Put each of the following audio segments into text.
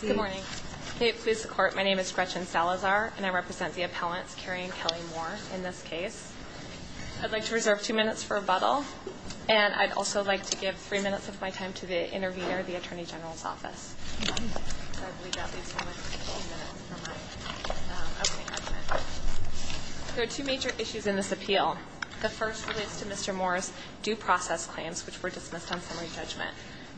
Good morning. May it please the Court, my name is Gretchen Salazar, and I represent the appellants Kerry and Kelly Moore in this case. I'd like to reserve two minutes for rebuttal, and I'd also like to give three minutes of my time to the intervener of the Attorney General's Office. There are two major issues in this appeal. The first relates to Mr. Moore's due process claims, which were dismissed on summary judgment.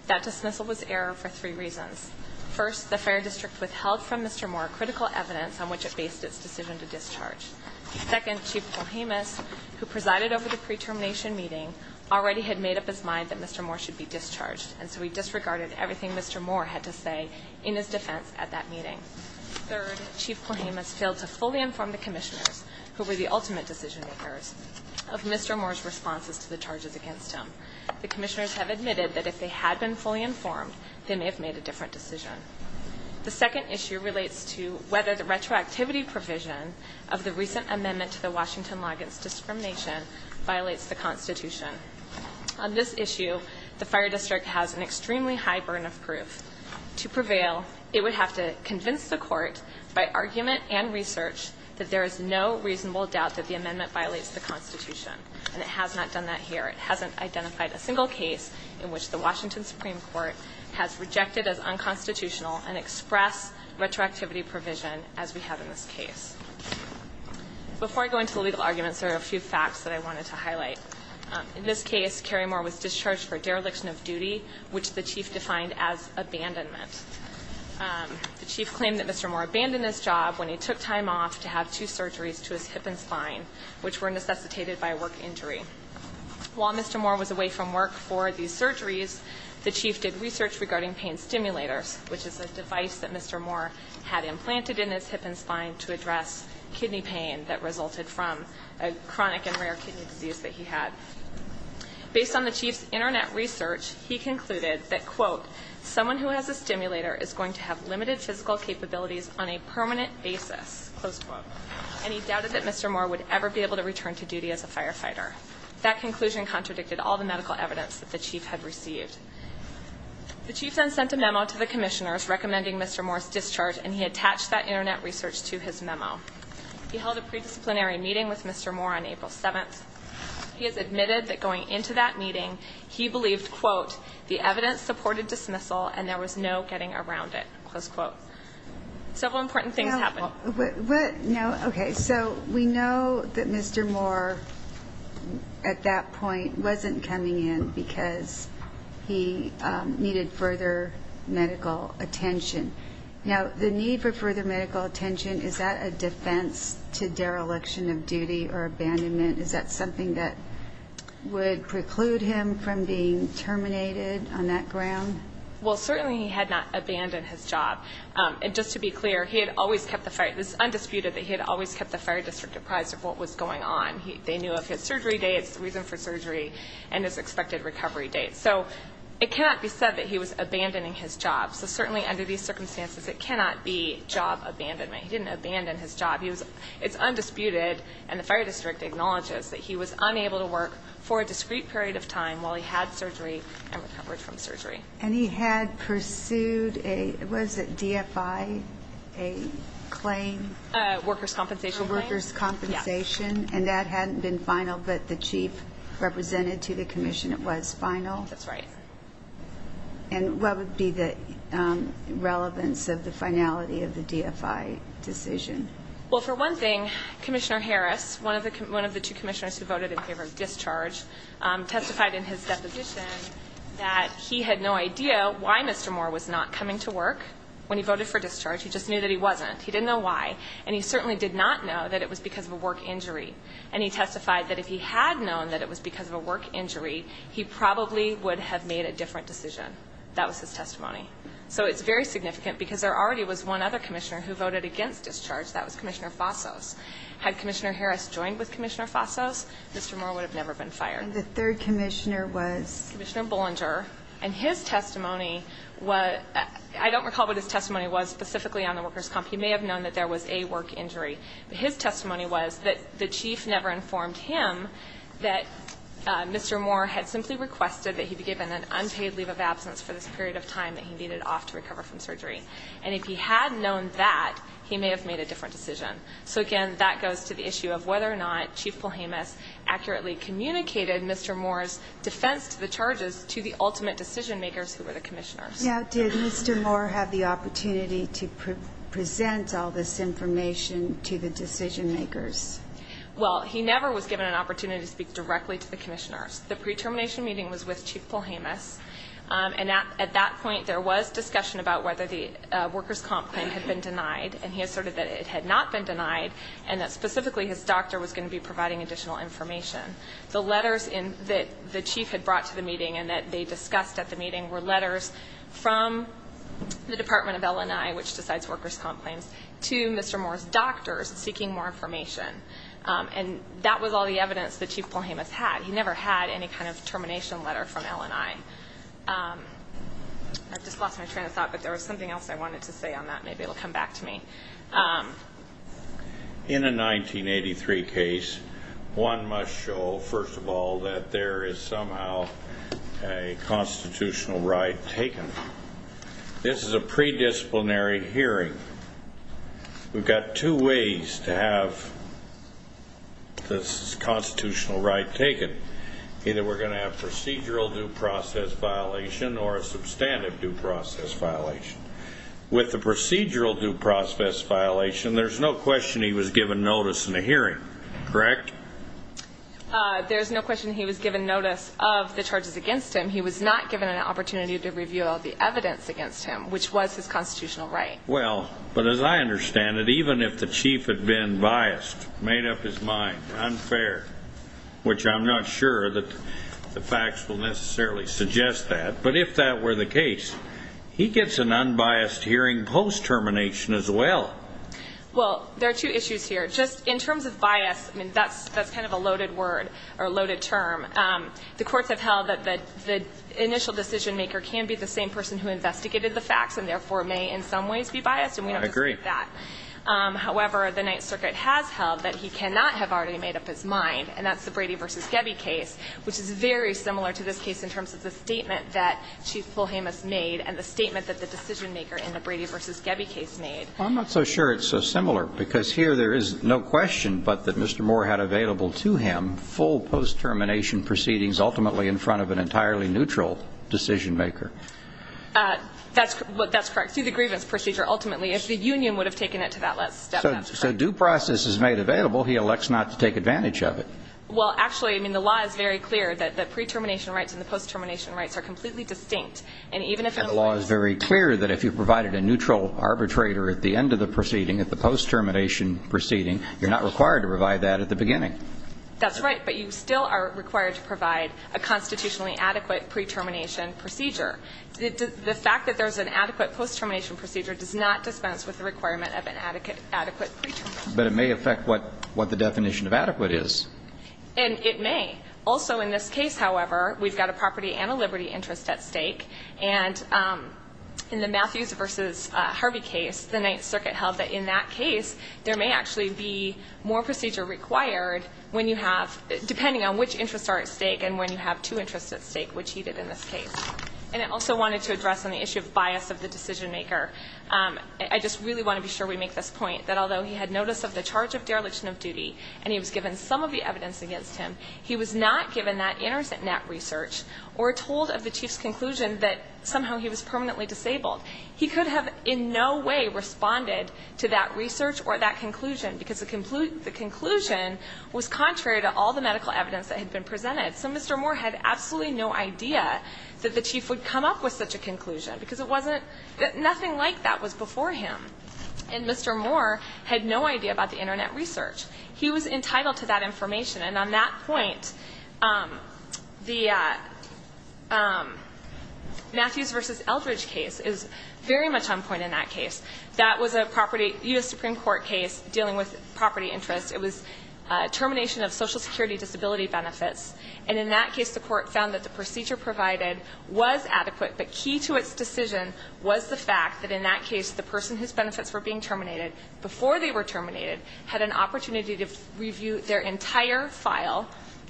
That dismissal was error for three reasons. First, the Fire District withheld from Mr. Moore critical evidence on which it based its decision to discharge. Second, Chief Polhemus, who presided over the pre-termination meeting, already had made up his mind that Mr. Moore should be discharged, and so he disregarded everything Mr. Moore had to say in his defense at that meeting. Third, Chief Polhemus failed to fully inform the commissioners, who were the ultimate decision makers, of Mr. Moore's responses to the charges against him. The commissioners have admitted that if they had been fully informed, they may have made a different decision. The second issue relates to whether the retroactivity provision of the recent amendment to the Washington Loggins discrimination violates the Constitution. On this issue, the Fire District has an extremely high burden of proof. To prevail, it would have to convince the Court, by argument and research, that there is no reasonable doubt that the amendment violates the Constitution, and it has not done that here. It hasn't identified a single case in which the Washington Supreme Court has rejected as unconstitutional an express retroactivity provision as we have in this case. Before I go into the legal arguments, there are a few facts that I wanted to highlight. In this case, Carey Moore was discharged for dereliction of duty, which the Chief defined as abandonment. The Chief claimed that Mr. Moore abandoned his job when he took time off to have two surgeries to his hip and spine, which were necessitated by a work injury. While Mr. Moore was away from work for these surgeries, the Chief did research regarding pain stimulators, which is a device that Mr. Moore had implanted in his hip and spine to address kidney pain that resulted from a chronic and rare kidney disease that he had. Based on the Chief's internet research, he concluded that, quote, someone who has a stimulator is going to have limited physical capabilities on a permanent basis, close quote. And he doubted that Mr. Moore would ever be able to return to duty as a firefighter. That conclusion contradicted all the medical evidence that the Chief had received. The Chief then sent a memo to the commissioners recommending Mr. Moore's discharge, and he attached that internet research to his memo. He held a predisciplinary meeting with Mr. Moore on April 7th. He has admitted that going into that meeting, he believed, quote, the evidence supported dismissal and there was no getting around it, close quote. Several important things happened. What, what, no, okay, so we know that Mr. Moore at that point wasn't coming in because he needed further medical attention. Now the need for further medical attention, is that a defense to dereliction of duty or abandonment? Is that something that would preclude him from being terminated on that ground? Well, certainly he had not abandoned his job. And just to be clear, he had always kept the fire, it's undisputed that he had always kept the fire district apprised of what was going on. They knew of his surgery dates, the reason for surgery, and his expected recovery date. So it cannot be said that he was abandoning his job. So certainly under these circumstances, it cannot be job abandonment. He didn't abandon his job. It's undisputed, and the fire district acknowledges that he was unable to work for a discrete period of time while he had surgery and recovered from surgery. And he had pursued a, was it DFI, a claim? Workers' compensation claim. Workers' compensation, and that hadn't been final, but the chief represented to the commission it was final? That's right. And what would be the relevance of the finality of the DFI decision? Well for one thing, Commissioner Harris, one of the two commissioners who voted in favor of discharge, testified in his deposition that he had no idea why Mr. Moore was not coming to work when he voted for discharge, he just knew that he wasn't. He didn't know why, and he certainly did not know that it was because of a work injury. And he testified that if he had known that it was because of a work injury, he probably would have made a different decision. That was his testimony. So it's very significant because there already was one other commissioner who voted against discharge, that was Commissioner Fasos. Had Commissioner Harris joined with Commissioner Fasos, Mr. Moore would have never been fired. And the third commissioner was? Commissioner Bollinger, and his testimony was, I don't recall what his testimony was specifically on the workers' comp, he may have known that there was a work injury, but his testimony was that the chief never informed him that Mr. Moore had simply requested that he be given an unpaid leave of absence for this period of time that he needed off to recover from surgery. And if he had known that, he may have made a different decision. So again, that goes to the issue of whether or not Chief Palhamus accurately communicated Mr. Moore's defense to the charges to the ultimate decision makers who were the commissioners. Now, did Mr. Moore have the opportunity to present all this information to the decision makers? Well, he never was given an opportunity to speak directly to the commissioners. The pre-termination meeting was with Chief Palhamus, and at that point there was discussion about whether the workers' comp claim had been denied, and he asserted that it had not been denied, and that specifically his doctor was going to be providing additional information. The letters that the chief had brought to the meeting and that they discussed at the meeting were letters from the Department of L&I, which decides workers' comp claims, to Mr. Moore's doctors seeking more information. And that was all the evidence that Chief Palhamus had. He never had any kind of termination letter from L&I. I've just lost my train of thought, but there was something else I wanted to say on that. Maybe it will come back to me. In a 1983 case, one must show, first of all, that there is somehow a constitutional right taken. This is a predisciplinary hearing. We've got two ways to have this constitutional right taken. Either we're going to have procedural due process violation or a substantive due process violation. With the procedural due process violation, there's no question he was given notice in the hearing, correct? There's no question he was given notice of the charges against him. He was not given an opportunity to reveal the evidence against him, which was his constitutional right. Well, but as I understand it, even if the chief had been biased, made up his mind, unfair, which I'm not sure that the facts will necessarily suggest that, but if that were the case, he gets an unbiased hearing post-termination as well. Well, there are two issues here. Just in terms of bias, I mean, that's kind of a loaded word or loaded term. The courts have held that the initial decision maker can be the same person who investigated the facts and therefore may in some ways be biased, and we have to support that. However, the Ninth Circuit has held that he cannot have already made up his mind, and that's the Brady v. Gebbe case, which is very similar to this case in terms of the statement that Chief Polhamus made and the statement that the decision maker in the Brady v. Gebbe case made. Well, I'm not so sure it's so similar, because here there is no question but that Mr. Moore had available to him full post-termination proceedings ultimately in front of an entirely neutral decision maker. That's correct. Through the grievance procedure, ultimately. If the union would have taken it to that last step, that's correct. So due process is made available. He elects not to take advantage of it. Well, actually, I mean, the law is very clear that the pre-termination rights and the post-termination rights are completely distinct. And even if the law is very clear that if you provided a neutral arbitrator at the end of the proceeding, at the post-termination proceeding, you're not required to provide that at the beginning. That's right. But you still are required to provide a constitutionally adequate pre-termination procedure. The fact that there's an adequate post-termination procedure does not dispense with the requirement of an adequate pre-termination procedure. But it may affect what the definition of adequate is. And it may. Also in this case, however, we've got a property and a liberty interest at stake. And in the Matthews v. Harvey case, the Ninth Circuit held that in that case, there may actually be more procedure required when you have – depending on which interests are at stake and when you have two interests at stake, which he did in this case. And I also wanted to address on the issue of bias of the decision maker, I just really want to be sure we make this point, that although he had notice of the charge of dereliction of duty and he was given some of the evidence against him, he was not given that internet research or told of the Chief's conclusion that somehow he was permanently disabled. He could have in no way responded to that research or that conclusion because the conclusion was contrary to all the medical evidence that had been presented. So Mr. Moore had absolutely no idea that the Chief would come up with such a conclusion because it wasn't – nothing like that was before him. And Mr. Moore had no idea about the internet research. He was entitled to that information. And on that point, the Matthews v. Eldridge case is very much on point in that case. That was a property – U.S. Supreme Court case dealing with property interests. It was termination of Social Security disability benefits. And in that case, the Court found that the procedure provided was adequate, but key to the Court's decision was the fact that in that case, the person whose benefits were being terminated before they were terminated had an opportunity to review their entire file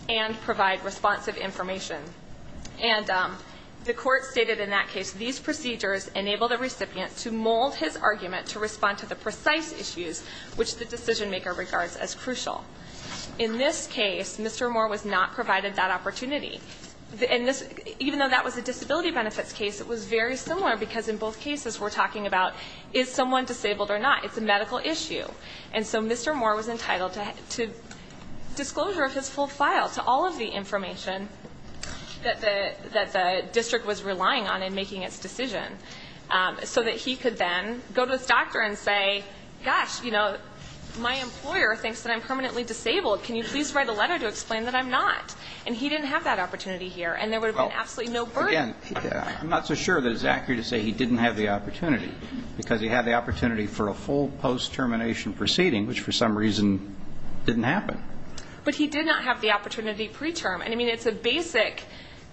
and provide responsive information. And the Court stated in that case, these procedures enable the recipient to mold his argument to respond to the precise issues which the decision-maker regards as crucial. In this case, Mr. Moore was not provided that opportunity. And this – even though that was a disability benefits case, it was very similar because in both cases, we're talking about is someone disabled or not? It's a medical issue. And so Mr. Moore was entitled to disclosure of his full file to all of the information that the district was relying on in making its decision so that he could then go to his doctor and say, gosh, you know, my employer thinks that I'm permanently disabled. Can you please write a letter to explain that I'm not? And he didn't have that opportunity here. And there would have been absolutely no burden. Well, again, I'm not so sure that it's accurate to say he didn't have the opportunity because he had the opportunity for a full post-termination proceeding, which for some reason didn't happen. But he did not have the opportunity preterm. And, I mean, it's a basic,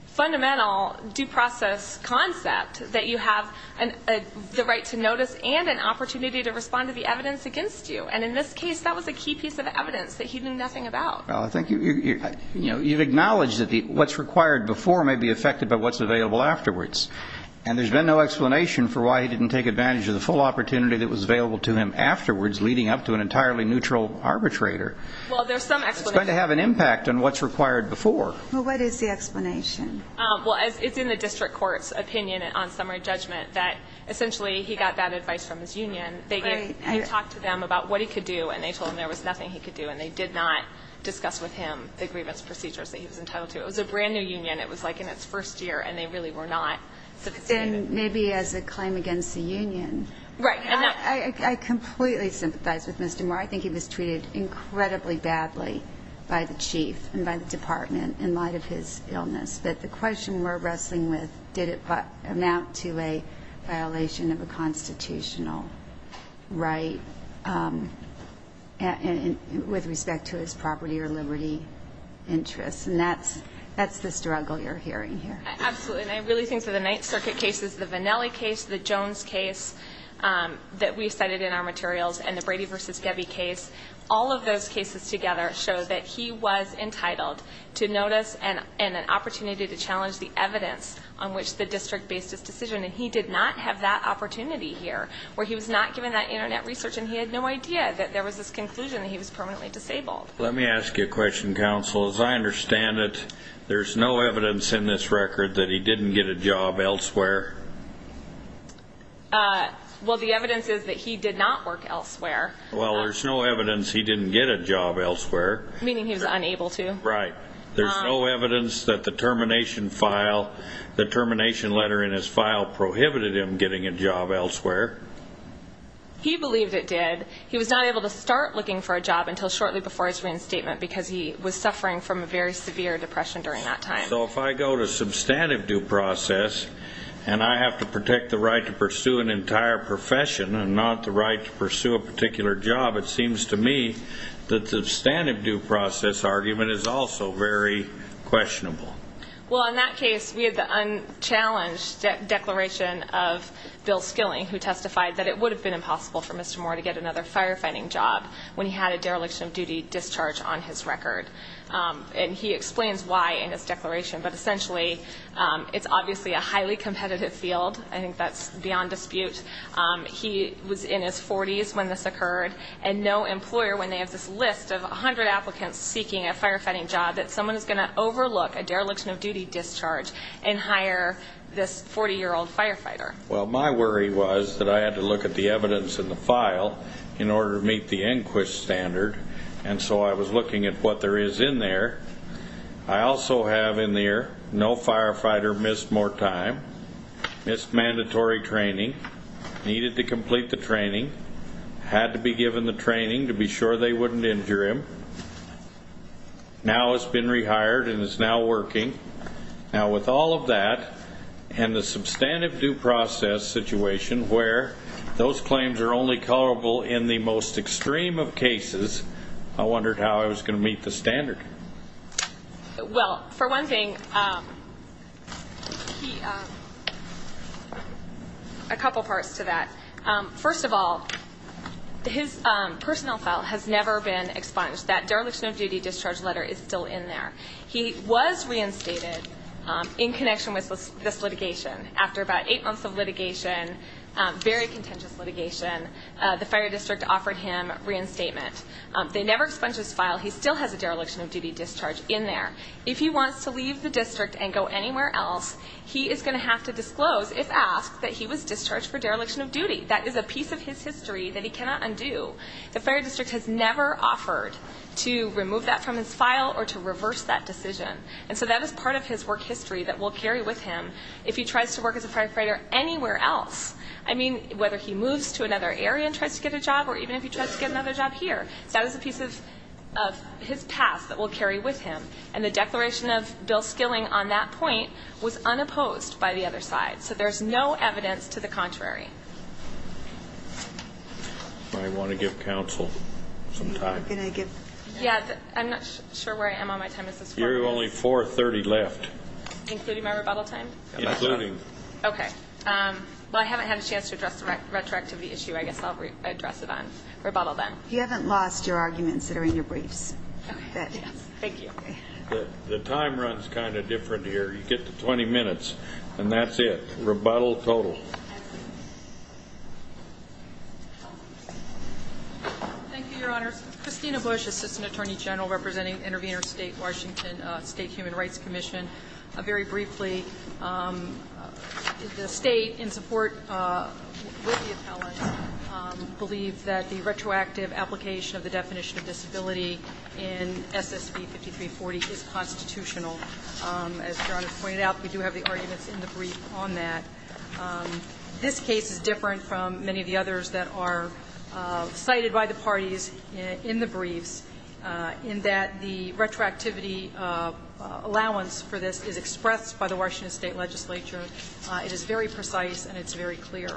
fundamental due process concept that you have the right to notice and an opportunity to respond to the evidence against you. And in this case, that was a key piece of evidence that he knew nothing about. Well, I think you've acknowledged that what's required before may be affected by what's available afterwards. And there's been no explanation for why he didn't take advantage of the full opportunity that was available to him afterwards, leading up to an entirely neutral arbitrator. Well, there's some explanation. It's going to have an impact on what's required before. Well, what is the explanation? Well, it's in the district court's opinion on summary judgment that essentially he got that advice from his union. They talked to them about what he could do. And they told him there was nothing he could do. And they did not discuss with him the grievance procedures that he was entitled to. It was a brand new union. It was like in its first year. And they really were not sophisticated. And maybe as a claim against the union, I completely sympathize with Mr. Moore. I think he was treated incredibly badly by the chief and by the department in light of his illness. But the question we're wrestling with, did it amount to a violation of a constitutional right with respect to his property or liberty interests? And that's the struggle you're hearing here. Absolutely. And I really think that the Ninth Circuit cases, the Vannelli case, the Jones case that we cited in our materials, and the Brady v. Gebbe case, all of those cases together show that he was entitled to notice and an opportunity to challenge the evidence on which the district based his decision. And he did not have that opportunity here, where he was not given that Internet research. And he had no idea that there was this conclusion that he was permanently disabled. Let me ask you a question, counsel. As I understand it, there's no evidence in this record that he didn't get a job elsewhere? Well, the evidence is that he did not work elsewhere. Well, there's no evidence he didn't get a job elsewhere. Meaning he was unable to? Right. There's no evidence that the termination letter in his file prohibited him getting a job elsewhere? He believed it did. He was not able to start looking for a job until shortly before his reinstatement because he was suffering from a very severe depression during that time. So if I go to substantive due process and I have to protect the right to pursue an entire profession and not the right to pursue a particular job, it seems to me that the substantive due process is still very questionable. Well, in that case, we had the unchallenged declaration of Bill Skilling, who testified that it would have been impossible for Mr. Moore to get another firefighting job when he had a dereliction of duty discharge on his record. And he explains why in his declaration. But essentially, it's obviously a highly competitive field. I think that's beyond dispute. He was in his 40s when this occurred. And no employer, when they have this list of 100 applicants seeking a firefighting job that someone is going to overlook a dereliction of duty discharge and hire this 40-year-old firefighter. Well, my worry was that I had to look at the evidence in the file in order to meet the Enquist standard. And so I was looking at what there is in there. I also have in there, no firefighter missed more time, missed mandatory training, needed to complete the training, had to be given the training to be sure they wouldn't injure him. Now he's been rehired and is now working. Now with all of that, and the substantive due process situation where those claims are only coverable in the most extreme of cases, I wondered how I was going to meet the standard. Well, for one thing, a couple parts to that. First of all, his personnel file has never been expunged. That dereliction of duty discharge letter is still in there. He was reinstated in connection with this litigation. After about eight months of litigation, very contentious litigation, the fire district offered him reinstatement. They never expunged his file. He still has a dereliction of duty discharge in there. If he wants to leave the district and go anywhere else, he is going to have to disclose if asked that he was discharged for dereliction of duty. That is a piece of his history that he cannot undo. The fire district has never offered to remove that from his file or to reverse that decision. And so that is part of his work history that we'll carry with him if he tries to work as a firefighter anywhere else, whether he moves to another area and tries to get a job or even if he tries to get another job here, that is a piece of his past that we'll carry with him. And the declaration of Bill Skilling on that point was unopposed by the other side. So there's no evidence to the contrary. I want to give counsel some time. Yeah, I'm not sure where I am on my time. You have only 4.30 left. Including my rebuttal time? Including. Okay. Well, I haven't had a chance to address the retroactivity issue. I guess I'll address it on rebuttal then. You haven't lost your arguments that are in your briefs. Thank you. The time runs kind of different here. You get to 20 minutes and that's it. Rebuttal total. Thank you, Your Honor. Christina Bush, Assistant Attorney General representing Intervenor State, Washington State Human Rights Commission. Very briefly, the state, in support with the appellate, believes that the retroactive application of the definition of disability in SSB 5340 is constitutional. As Your Honor pointed out, we do have the arguments in the brief on that. This case is different from many of the others that are cited by the parties in the briefs in that the retroactivity allowance for this is expressed by the Washington State legislature. It is very precise and it's very clear.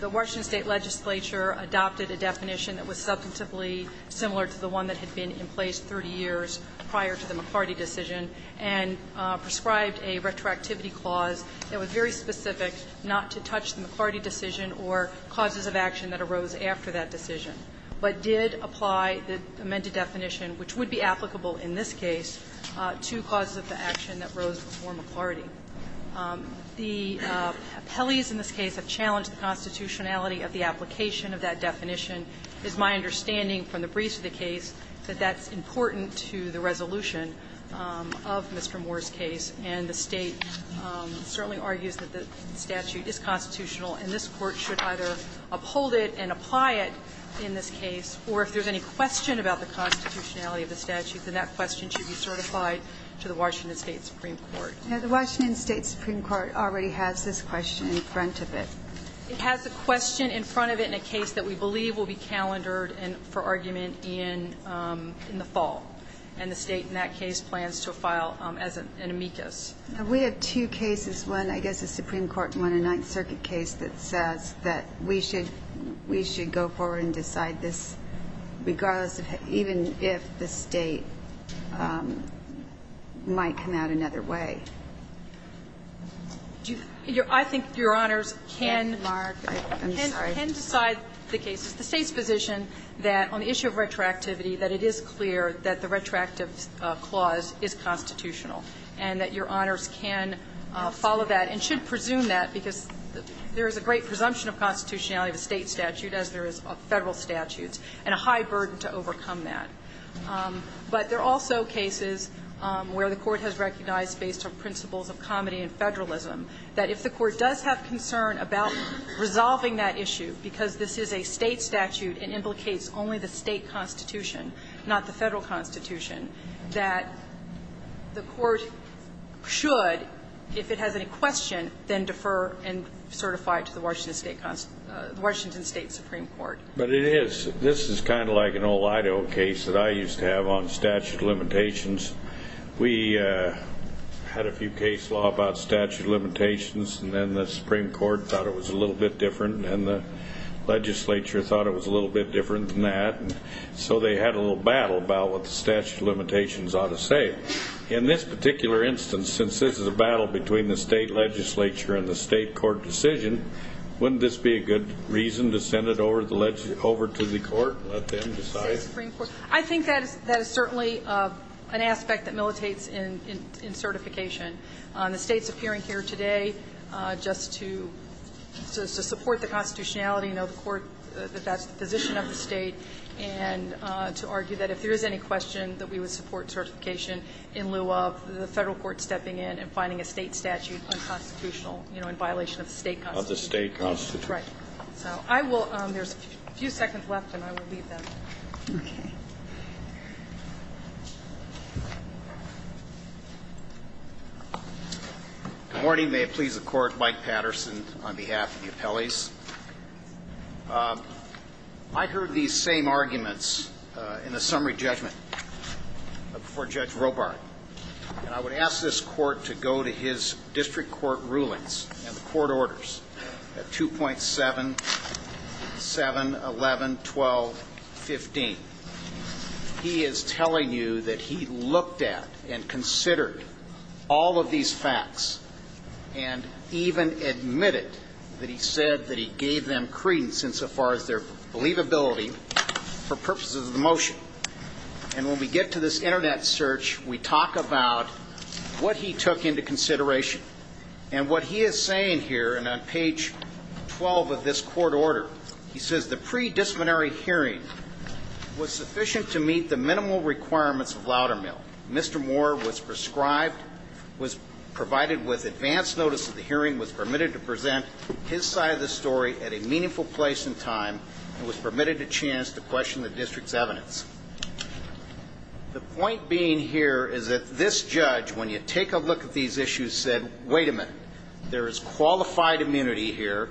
The Washington State legislature adopted a definition that was substantively similar to the one that had been in place 30 years prior to the McLarty decision and prescribed a retroactivity clause that was very specific not to touch the McLarty decision or causes of action that arose after that decision, but did apply the amended definition, which would be applicable in this case, to causes of action that arose before McLarty. The appellees in this case have challenged the constitutionality of the application of that definition. It's my understanding from the briefs of the case that that's important to the resolution of Mr. Moore's case. And the State certainly argues that the statute is constitutional and this Court should either uphold it and apply it in this case, or if there's any question about the constitutionality of the statute, then that question should be certified to the Washington State Supreme Court. Now, the Washington State Supreme Court already has this question in front of it. It has a question in front of it in a case that we believe will be calendared for argument in the fall. And the State in that case plans to file as an amicus. We have two cases. One, I guess, a Supreme Court one, a Ninth Circuit case that says that we should go forward and decide this regardless of even if the State might come out another way. I think Your Honors can decide the cases. The State's position that on the issue of retroactivity that it is clear that the retroactive clause is constitutional and that Your Honors can follow that and should presume that because there is a great presumption of constitutionality of a State statute as there is of Federal statutes and a high burden to overcome that. But there are also cases where the Court has recognized based on principles of comedy and federalism that if the Court does have concern about resolving that issue because this is a State statute and implicates only the State constitution, not the Federal constitution, that the Court should, if it has any question, then defer and certify it to the Washington State Supreme Court. But it is. This is kind of like an old Idaho case that I used to have on statute of limitations. We had a few case law about statute of limitations and then the Supreme Court thought it was a little bit different and the legislature thought it was a little bit different than that. So they had a little battle about what the statute of limitations ought to say. In this particular instance, since this is a battle between the State legislature and the State court decision, wouldn't this be a good reason to send it over to the Court, let them decide? I think that is certainly an aspect that militates in certification. The State's appearing here today just to support the constitutionality of the Court, that that's the position of the State, and to argue that if there is any question that we would support certification in lieu of the Federal Court stepping in and finding a State statute unconstitutional, you know, in violation of the State constitution. Of the State constitution. Right. So I will, there's a few seconds left and I will leave then. Okay. Good morning. May it please the Court. Mike Patterson on behalf of the appellees. I heard these same arguments in the summary judgment before Judge Robart. And I would ask this Court to go to his district court rulings and court orders at 2.7, 7, 11, 12, 15. He is telling you that he looked at and considered all of these facts, and even admitted that he said that he gave them credence insofar as their believability for purposes of the motion. And when we get to this internet search, we talk about what he took into consideration. And what he is saying here, and on page 12 of this court order, he says the pre-disciplinary hearing was sufficient to meet the minimal requirements of Loudermill. Mr. Moore was prescribed, was provided with advance notice of the hearing, was permitted to present his side of the story at a meaningful place and time, and was permitted a chance to question the district's evidence. The point being here is that this judge, when you take a look at these issues, said, wait a minute, there is qualified immunity here,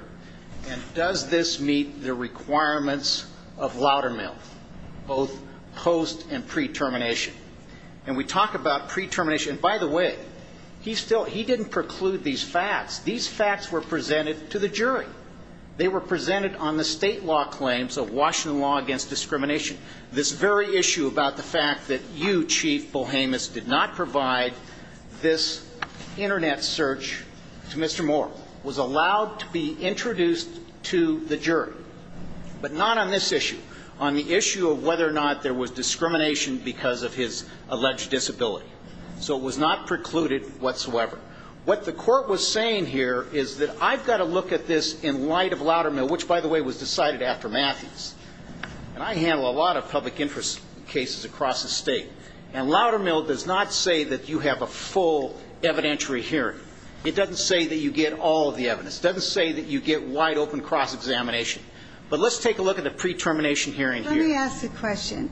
and does this meet the requirements of Loudermill, both post and pre-termination? And we talk about pre-termination. And by the way, he didn't preclude these facts. These facts were presented to the jury. They were presented on the state law claims of Washington law against discrimination. This very issue about the fact that you, Chief Bohamus, did not provide this internet search to Mr. Moore, was allowed to be introduced to the jury. But not on this issue. On the issue of whether or not there was discrimination because of his alleged disability. So it was not precluded whatsoever. What the court was saying here is that I've got to look at this in light of Loudermill, which, by the way, was decided after Matthews. And I handle a lot of public interest cases across the state. And Loudermill does not say that you have a full evidentiary hearing. It doesn't say that you get all of the evidence. It doesn't say that you get wide open cross-examination. But let's take a look at the pre-termination hearing here. Let me ask a question.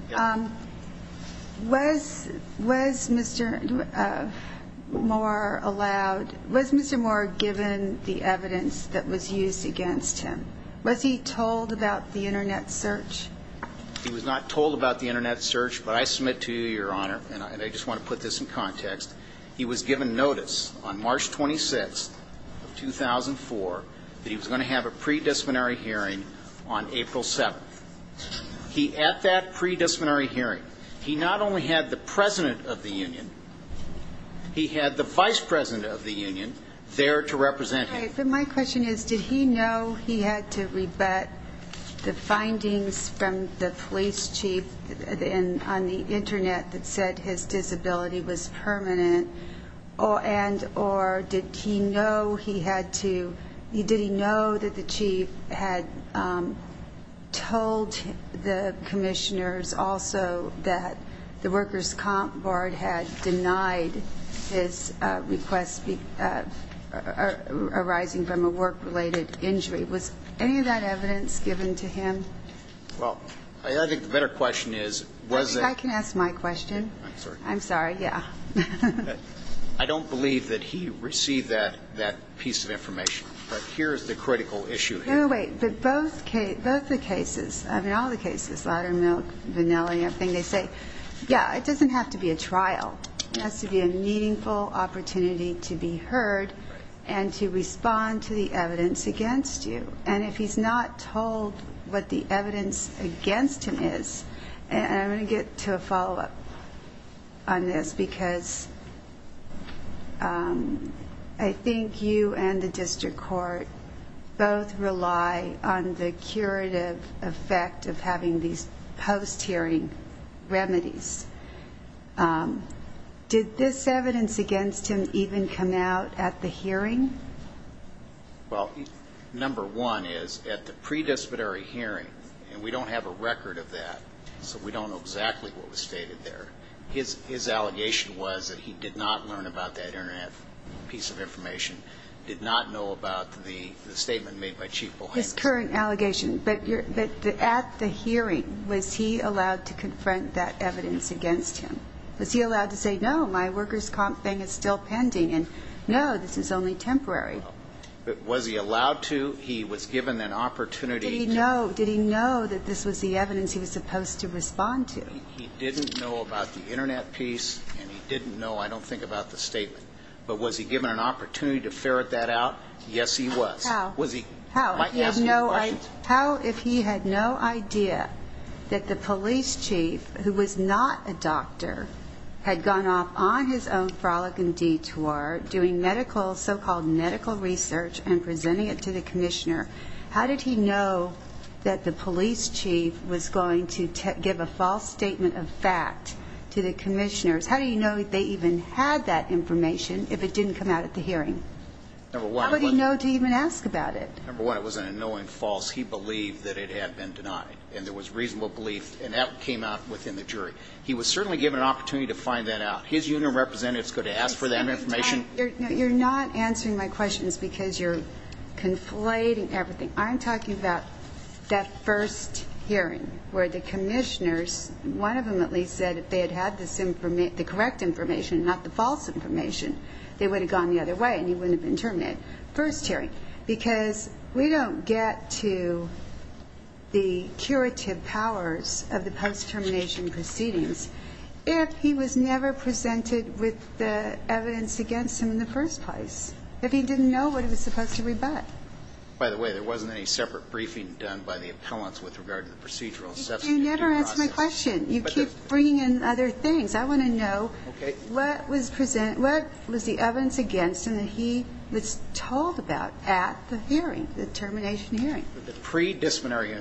Was Mr. Moore given the evidence that was used against him? Was he told about the internet search? He was not told about the internet search. But I submit to you, Your Honor, and I just want to put this in context, he was given notice on March 26th of 2004 that he was going to have a pre-disciplinary hearing on April 7th. At that pre-disciplinary hearing, he not only had the President of the Union, he had the Vice President of the Union there to represent him. My question is, did he know he had to rebut the findings from the police chief on the internet that said his disability was permanent? Or did he know that the chief had told the commissioners also that the workers' comp board had denied his requests arising from a work-related injury? Was any of that evidence given to him? Well, I think the better question is, was it? I can ask my question. I'm sorry. I'm sorry. Yeah. I don't believe that he received that piece of information. But here is the critical issue here. No, wait. But both the cases, I mean, all the cases, larder milk, vanilla, they say, yeah, it doesn't have to be a trial. It has to be a meaningful opportunity to be heard and to respond to the evidence against you. And if he's not told what the evidence against him is, and I'm going to get to a follow-up on this, because I think you and the district court both rely on the curative effect of having these post-hearing remedies. Did this evidence against him even come out at the hearing? Well, number one is, at the pre-disciplinary hearing, and we don't have a record of that, so we don't know exactly what was stated there, his allegation was that he did not learn about that piece of information, did not know about the statement made by Chief But at the hearing, was he allowed to confront that evidence against him? Was he allowed to say, no, my workers' comp thing is still pending, and no, this is only temporary? Was he allowed to? He was given an opportunity. Did he know that this was the evidence he was supposed to respond to? He didn't know about the Internet piece, and he didn't know, I don't think, about the statement. But was he given an opportunity to ferret that out? Yes, he was. How? Was he? How? Am I asking you questions? How, if he had no idea that the police chief, who was not a doctor, had gone off on his own frolic and detour, doing medical, so-called medical research, and presenting it to the commissioner, how did he know that the police chief was going to give a false statement of fact to the commissioners? How did he know they even had that information, if it didn't come out at the hearing? How did he know to even ask about it? Number one, it was an annoying false. He believed that it had been denied, and there was reasonable belief, and that came out within the jury. He was certainly given an opportunity to find that out. His union representatives could have asked for that information. You're not answering my questions because you're conflating everything. I'm talking about that first hearing, where the commissioners, one of them at least, said if they had had the correct information, not the false information, they would have gone the other way. And he wouldn't have been terminated. First hearing, because we don't get to the curative powers of the post-termination proceedings if he was never presented with the evidence against him in the first place. If he didn't know what he was supposed to rebut. By the way, there wasn't any separate briefing done by the appellants with regard to the procedural and substantive process. You never answer my question. You keep bringing in other things. I want to know what was the evidence against him that he was told about at the hearing, the termination hearing. At the pre-disciplinary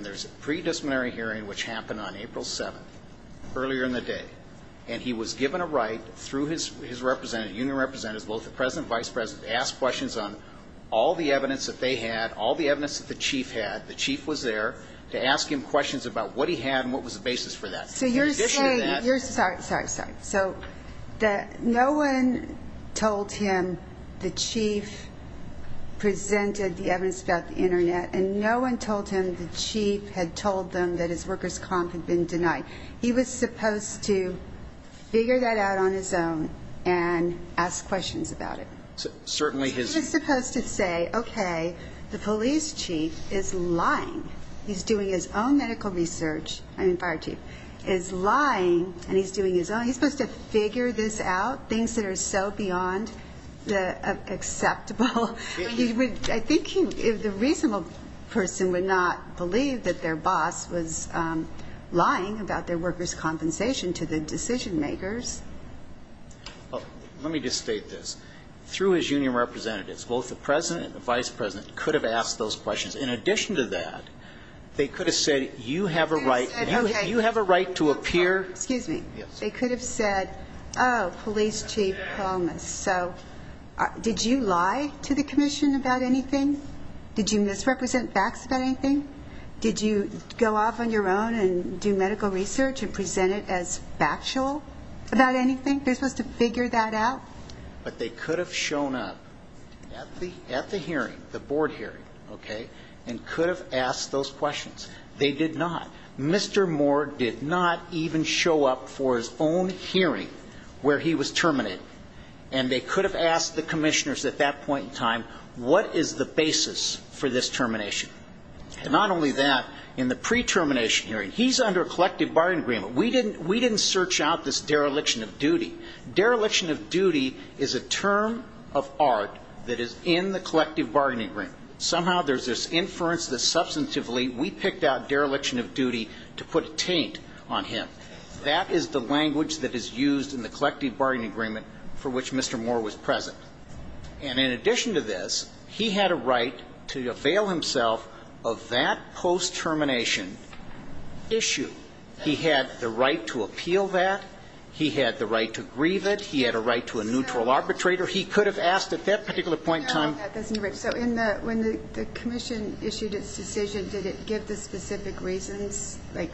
hearing, which happened on April 7th, earlier in the day, and he was given a right through his union representatives, both the president and vice president, to ask questions on all the evidence that they had, all the evidence that the chief had. The chief was there to ask him questions about what he had and what was the basis for that. So you're saying... Sorry, sorry, sorry. So no one told him the chief presented the evidence about the internet and no one told him the chief had told them that his workers' comp had been denied. He was supposed to figure that out on his own and ask questions about it. He was supposed to say, OK, the police chief is lying. He's doing his own medical research, I mean fire chief, is lying and he's doing his own. He's supposed to figure this out, things that are so beyond acceptable. I think the reasonable person would not believe that their boss was lying about their workers' compensation to the decision makers. Let me just state this. Through his union representatives, both the president and the vice president could have asked those questions. In addition to that, they could have said, you have a right to appear... Excuse me. They could have said, oh, police chief Palmas, so did you lie to the commission about anything? Did you misrepresent facts about anything? Did you go off on your own and do medical research and present it as factual about anything? They're supposed to figure that out? But they could have shown up at the hearing, the board hearing, and could have asked those questions. They did not. Mr. Moore did not even show up for his own hearing where he was terminated and they could have asked the commissioners at that point in time, what is the basis for this termination? Not only that, in the pre-termination hearing, he's under a collective bargaining agreement. We didn't search out this dereliction of duty. Dereliction of duty is a term of art that is in the collective bargaining agreement. Somehow there's this inference that substantively we picked out dereliction of duty to put a taint on him. That is the language that is used in the collective bargaining agreement for which Mr. Moore was present. And in addition to this, he had a right to avail himself of that post-termination issue. He had the right to appeal that. He had the right to grieve it. He had a right to a neutral arbitrator. He could have asked at that particular point in time. When the commission issued its decision, did it give the specific reasons? Like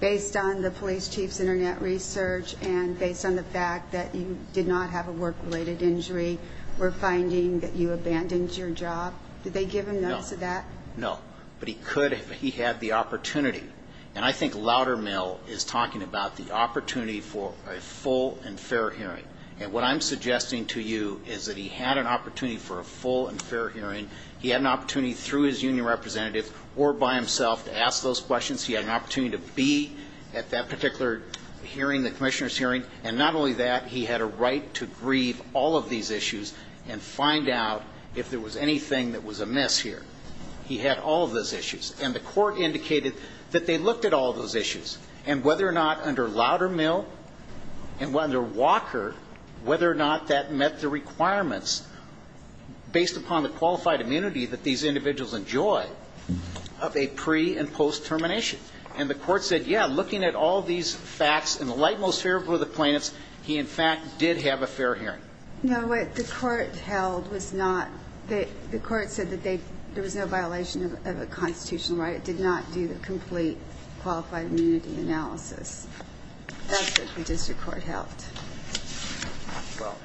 based on the police chief's internet research and based on the fact that you did not have a work-related injury or finding that you abandoned your job? Did they give him notes of that? No. But he could if he had the opportunity. And I think Loudermill is talking about the opportunity for a full and fair hearing. And what I'm suggesting to you is that he had an opportunity for a full and fair hearing. He had an opportunity through his union representative or by himself to ask those questions. He had an opportunity to be at that particular hearing, the commissioner's hearing. And not only that, he had a right to grieve all of these issues and find out if there was anything that was amiss here. He had all of those issues. And the court indicated that they looked at all of those issues. And whether or not under Loudermill and under Walker, whether or not that met the requirements based upon the qualified immunity that these individuals enjoy of a pre- and post-termination. And the court said, yeah, looking at all these facts in the light most favorable of the plaintiffs, he in fact did have a fair hearing. No, what the court held was not that the court said that there was no violation of a constitutional right. It did not do the complete qualified immunity analysis. That's what the district court held. Well,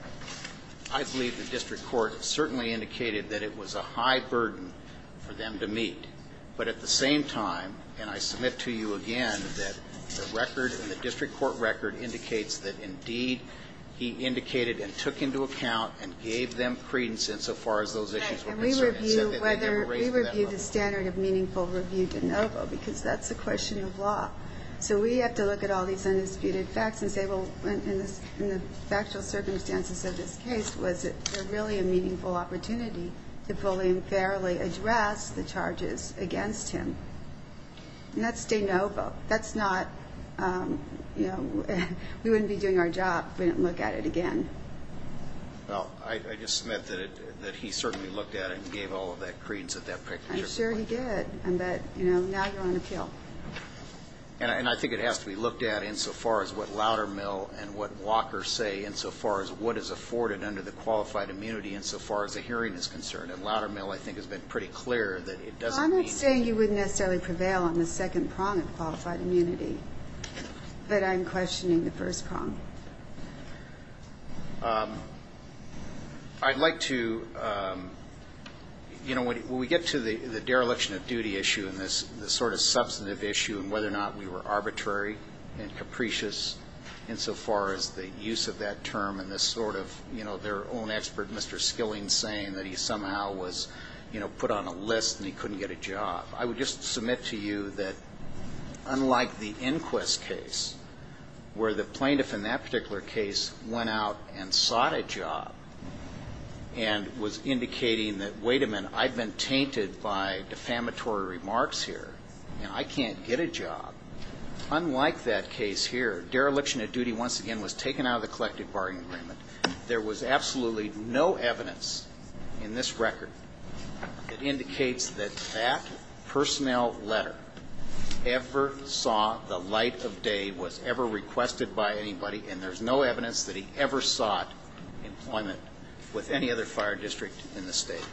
I believe the district court certainly indicated that it was a high burden for them to meet. But at the same time, and I submit to you again that the record and the district court record indicates that indeed he indicated and took into account and gave them credence insofar as those issues were concerned. And we review whether we review the standard of meaningful review de novo because that's a question of law. So we have to look at all these undisputed facts and say, well, in the factual circumstances of this case, was it really a meaningful opportunity to fully and fairly address the charges against him? And that's de novo. That's not, you know, we wouldn't be doing our job if we didn't look at it again. Well, I just submit that he certainly looked at it and gave all of that credence at that particular point. I'm sure he did. But, you know, now you're on appeal. And I think it has to be looked at insofar as what Loudermill and what Walker say insofar as what is afforded under the qualified immunity insofar as the hearing is concerned. And Loudermill, I think, has been pretty clear that it doesn't mean... Well, I'm not saying you wouldn't necessarily prevail on the second prong of qualified immunity. But I'm questioning the first prong. I'd like to, you know, when we get to the dereliction of duty issue and this sort of substantive issue and whether or not we were arbitrary and capricious insofar as the use of that term and this sort of, you know, their own expert, Mr. Skilling, saying that he somehow was, you know, put on a list and he couldn't get a job. I would just submit to you that unlike the inquest case where the plaintiff in that particular case went out and sought a job and was indicating that, wait a minute, I've been tainted by defamatory remarks here and I can't get a job. Unlike that case here, dereliction of duty once again was taken out of the collective bargaining agreement. There was absolutely no evidence in this record that indicates that that personnel letter ever saw the light of day was ever requested by anybody and there's no evidence that he ever sought employment with any other fire district in the state.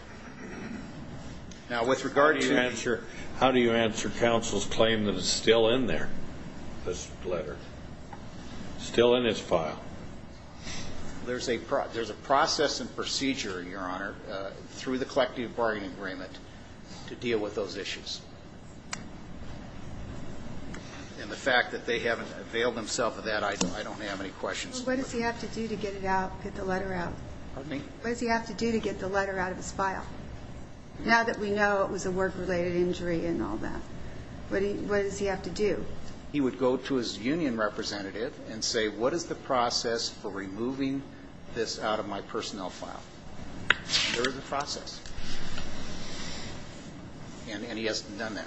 Now with regard to How do you answer counsel's claim that it's still in there this letter still in his file? There's a process and procedure, your honor, through the collective bargaining agreement to deal with those issues. And the fact that they haven't availed themselves of that I don't have any questions. What does he have to do to get it out, get the letter out? Pardon me? What does he have to do to get the letter out of his file? Now that we know it was a work-related injury and all that what does he have to do? He would go to his union representative and say what is the process for removing this out of my personnel file? There is a process and he hasn't done that.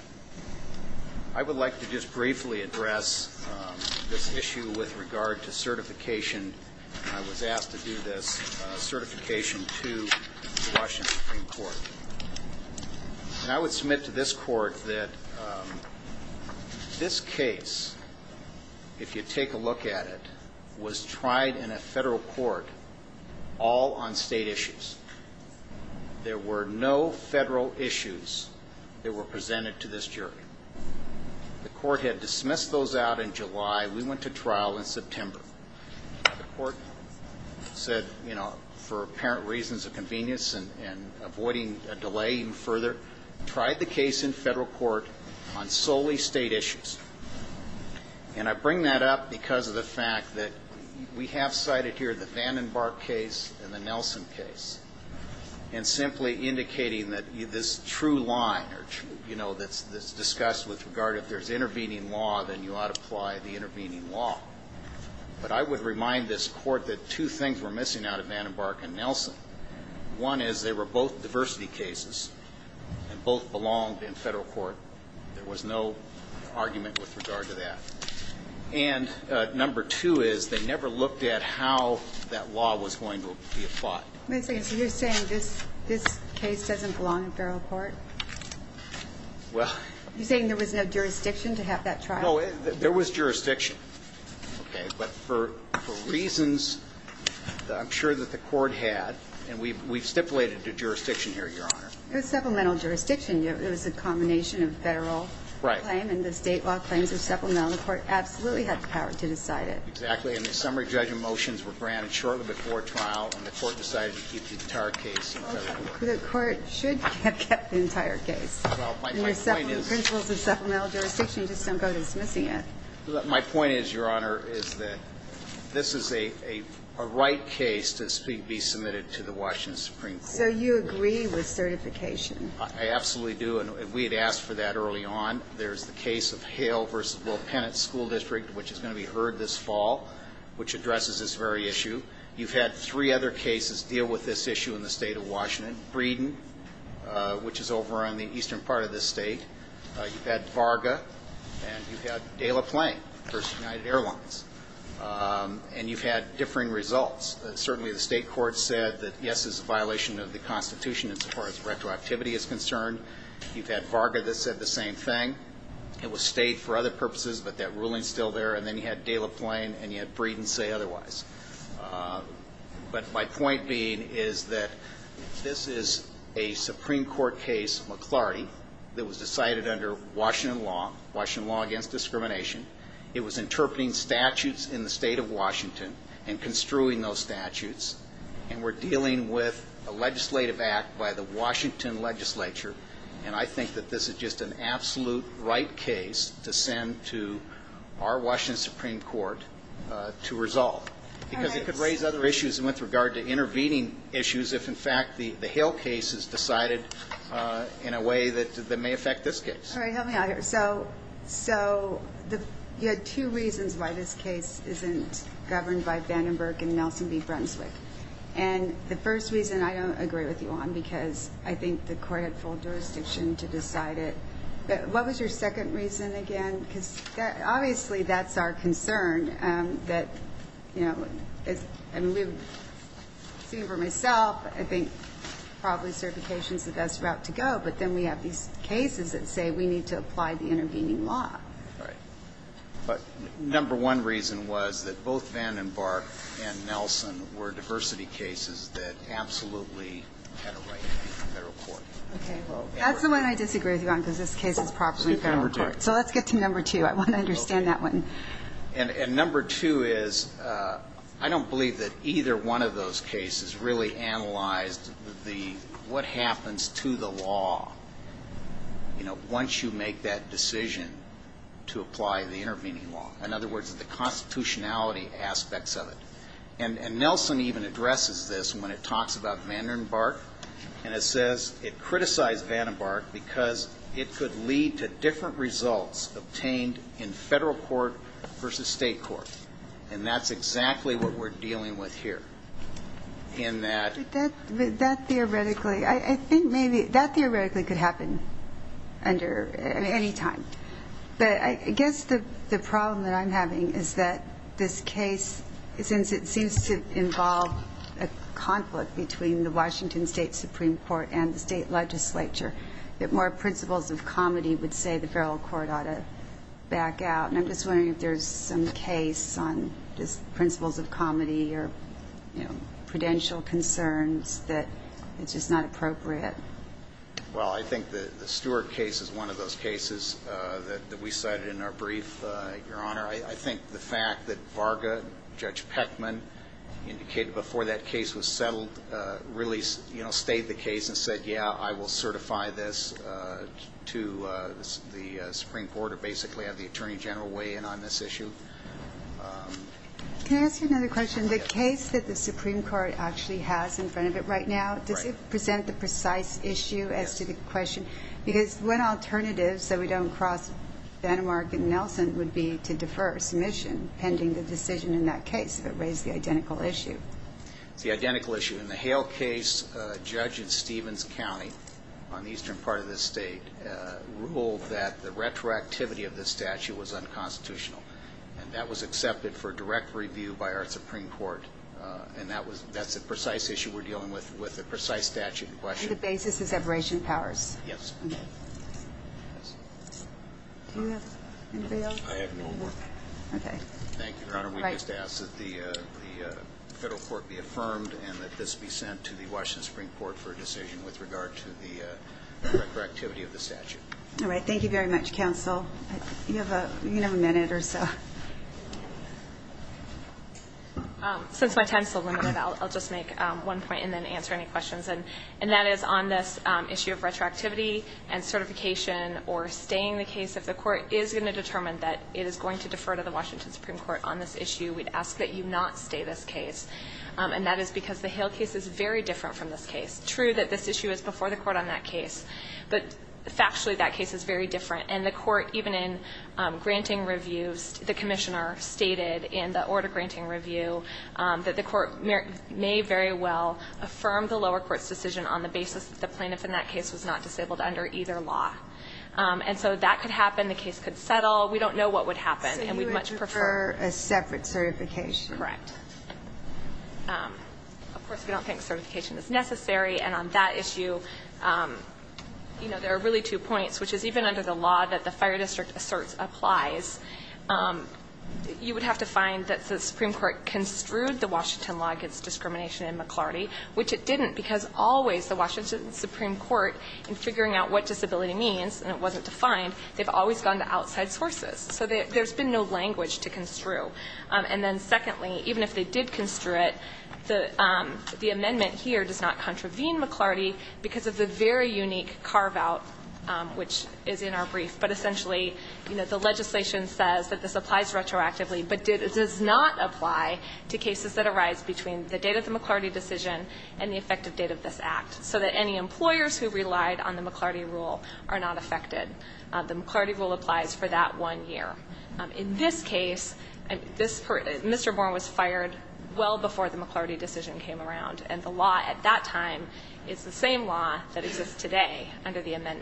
I would like to just briefly address this issue with regard to certification I was asked to do this certification to the Washington Supreme Court. And I would submit to this court that this case if you take a look at it was tried in a federal court all on state issues. There were no federal issues that were presented to this jury. The court had dismissed those out in July. We went to trial in September. The court said you know for apparent reasons of convenience and avoiding a delay further tried the case in federal court on solely state issues. And I bring that up because of the fact that we have cited here the Vandenberg case and the Nelson case and simply indicating that this true line you know that's discussed with regard if there is intervening law then you ought to apply the intervening law. But I would remind this court that two things were missing out of Vandenberg and Nelson. One is they were both diversity cases and both belonged in federal court. There was no argument with regard to that. And number two is they never looked at how that law was going to be applied. You're saying this case doesn't belong in federal court? Well You're saying there was no jurisdiction to have that trial? There was jurisdiction Okay But for reasons I'm sure that the court and we've stipulated a jurisdiction here Your Honor. It was supplemental jurisdiction it was a combination of federal claim and the state law claims were supplemental and the court absolutely had the power to decide it. Exactly and the summary judgment motions were granted shortly before trial and the court decided to keep the entire case in federal court. The court should have kept the entire case My point is Your Honor is that this is a right case to be submitted to the Washington Supreme Court. So you agree with certification? I absolutely do and we had asked for that early on. There's the case of Hale versus Will Pennet School District which is going to be heard this fall which addresses this very issue. You've had three other cases deal with this issue in the state of Washington Breeden which is over on the eastern part of the state you've had Varga and you've had Dela Plain it was stayed for other purposes but that ruling is still there and then you had Dela Plain and you had Breeden say otherwise but my point being is that this is a Supreme Court case McLarty that was decided under Washington law Washington law against discrimination it was interpreting statutes in the state of Washington and construing those statutes and we're dealing with a legislative act by the Washington legislature and I think that this is just an absolute right case to send to our Washington Supreme Court to resolve because it could raise other issues with regard to intervening issues if in fact the Hill case is decided in a way that may affect this case so you had two reasons why this case isn't governed by Vandenberg and Nelson B Brunswick and the first reason I don't agree with it's not a good decision to decide it what was your second reason again because obviously that's our concern that you know I'm seeing for myself I think probably certifications are the best route to go but then we have these cases that say we need to apply the intervening law number one reason was that both Vandenberg and Nelson were diversity cases that absolutely had a significance to the law you know once you make that decision to apply the intervening law in other words the constitutionality aspects of it and Nelson even addresses this when it talks about Vandenberg and it says it criticized Vandenberg because it could lead to different results obtained in federal court versus state court and that's exactly what we are dealing with here that theoretically could happen under any time but I guess the problem that I'm having is that this case since it seems to involve a conflict between the Washington state supreme court and state legislature that more principles of comedy would say the federal court ought to back out and I'm just wondering if there's some case on principles of comedy or prudential concerns that it's just not appropriate well I think the Stewart case is one of those cases that we cited in our brief your honor I think the fact that Varga judge Peckman indicated before that case was settled really you know state the case and said yeah I will certify this to the supreme court or basically have the attorney the question across Vanamark and Nelson would be to defer submission pending the decision in that case it raised the identical issue it's the identical issue in the Hale case judge in Stevens county on the case I have no more thank you your honor we just ask that the federal court be affirmed and that this be sent to the Washington supreme court for a decision with regard to the correct activity of the statute thank you very much counsel you have a right to ask that the court determine it is going to defer to the Washington supreme court on this issue we ask that you not stay this case and that is because the case is very different from this case but factually that the court may very well affirm the lower court decision on the basis that the plaintiff in that case was not disabled under either law and so that could happen the case could settle for a separate certification correct of course we don't think certification is necessary and on that issue there are really two points which is even under the law that the fire district asserts applies you would have to find that the supreme court construed the Washington law which it didn't because always in figuring out what disability means they have always gone to outside sources so there has been no language to construe and secondly even if they did construe it the amendment does not contravene McClarty because of the unique carve out which is in our brief but essentially the legislation says this applies retroactively but does not apply to cases that arise between the date of the decision and the effective date of this act so any employers who relied on the McClarty rule are not affected the McClarty rule applies for that one year in this case Mr. Bourne was fired well before the McClarty decision came around and the law at that time is the same law that exists in it wasn't even the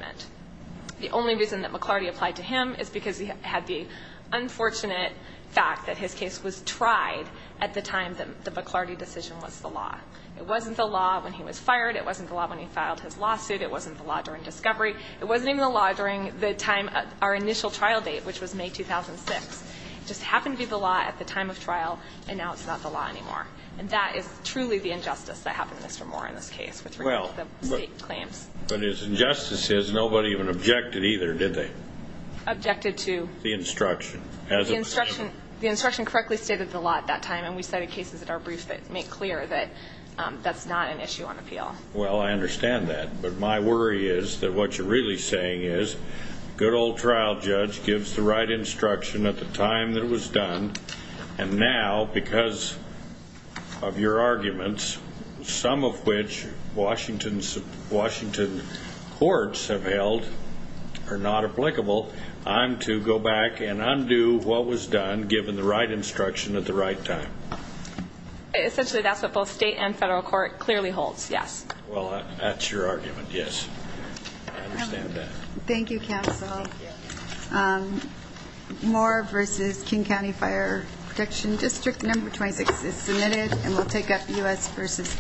law during discovery it wasn't even the law during our initial trial date which was May 2006 it just happened to be the law at the time of trial and now it's not the law anymore and that is truly the injustice that happened to Mr. Bourne in this case nobody even objected either did they objected to the instruction the instruction correctly stated the law at that time and we cited cases that are brief that make clear that that's not an issue on appeal well I understand that but my worry is that what you're really saying is good old trial judge gives the right instruction at the time that it was done and now because of your arguments some of which Washington courts have held are not applicable I'm to go back and undo what was done given the right instruction at the right time essentially that's what both state and federal court clearly holds yes well that's your argument yes I understand that thank you counsel Moore versus King County Fire Protection District number 26 is submitted and we'll take up U.S. versus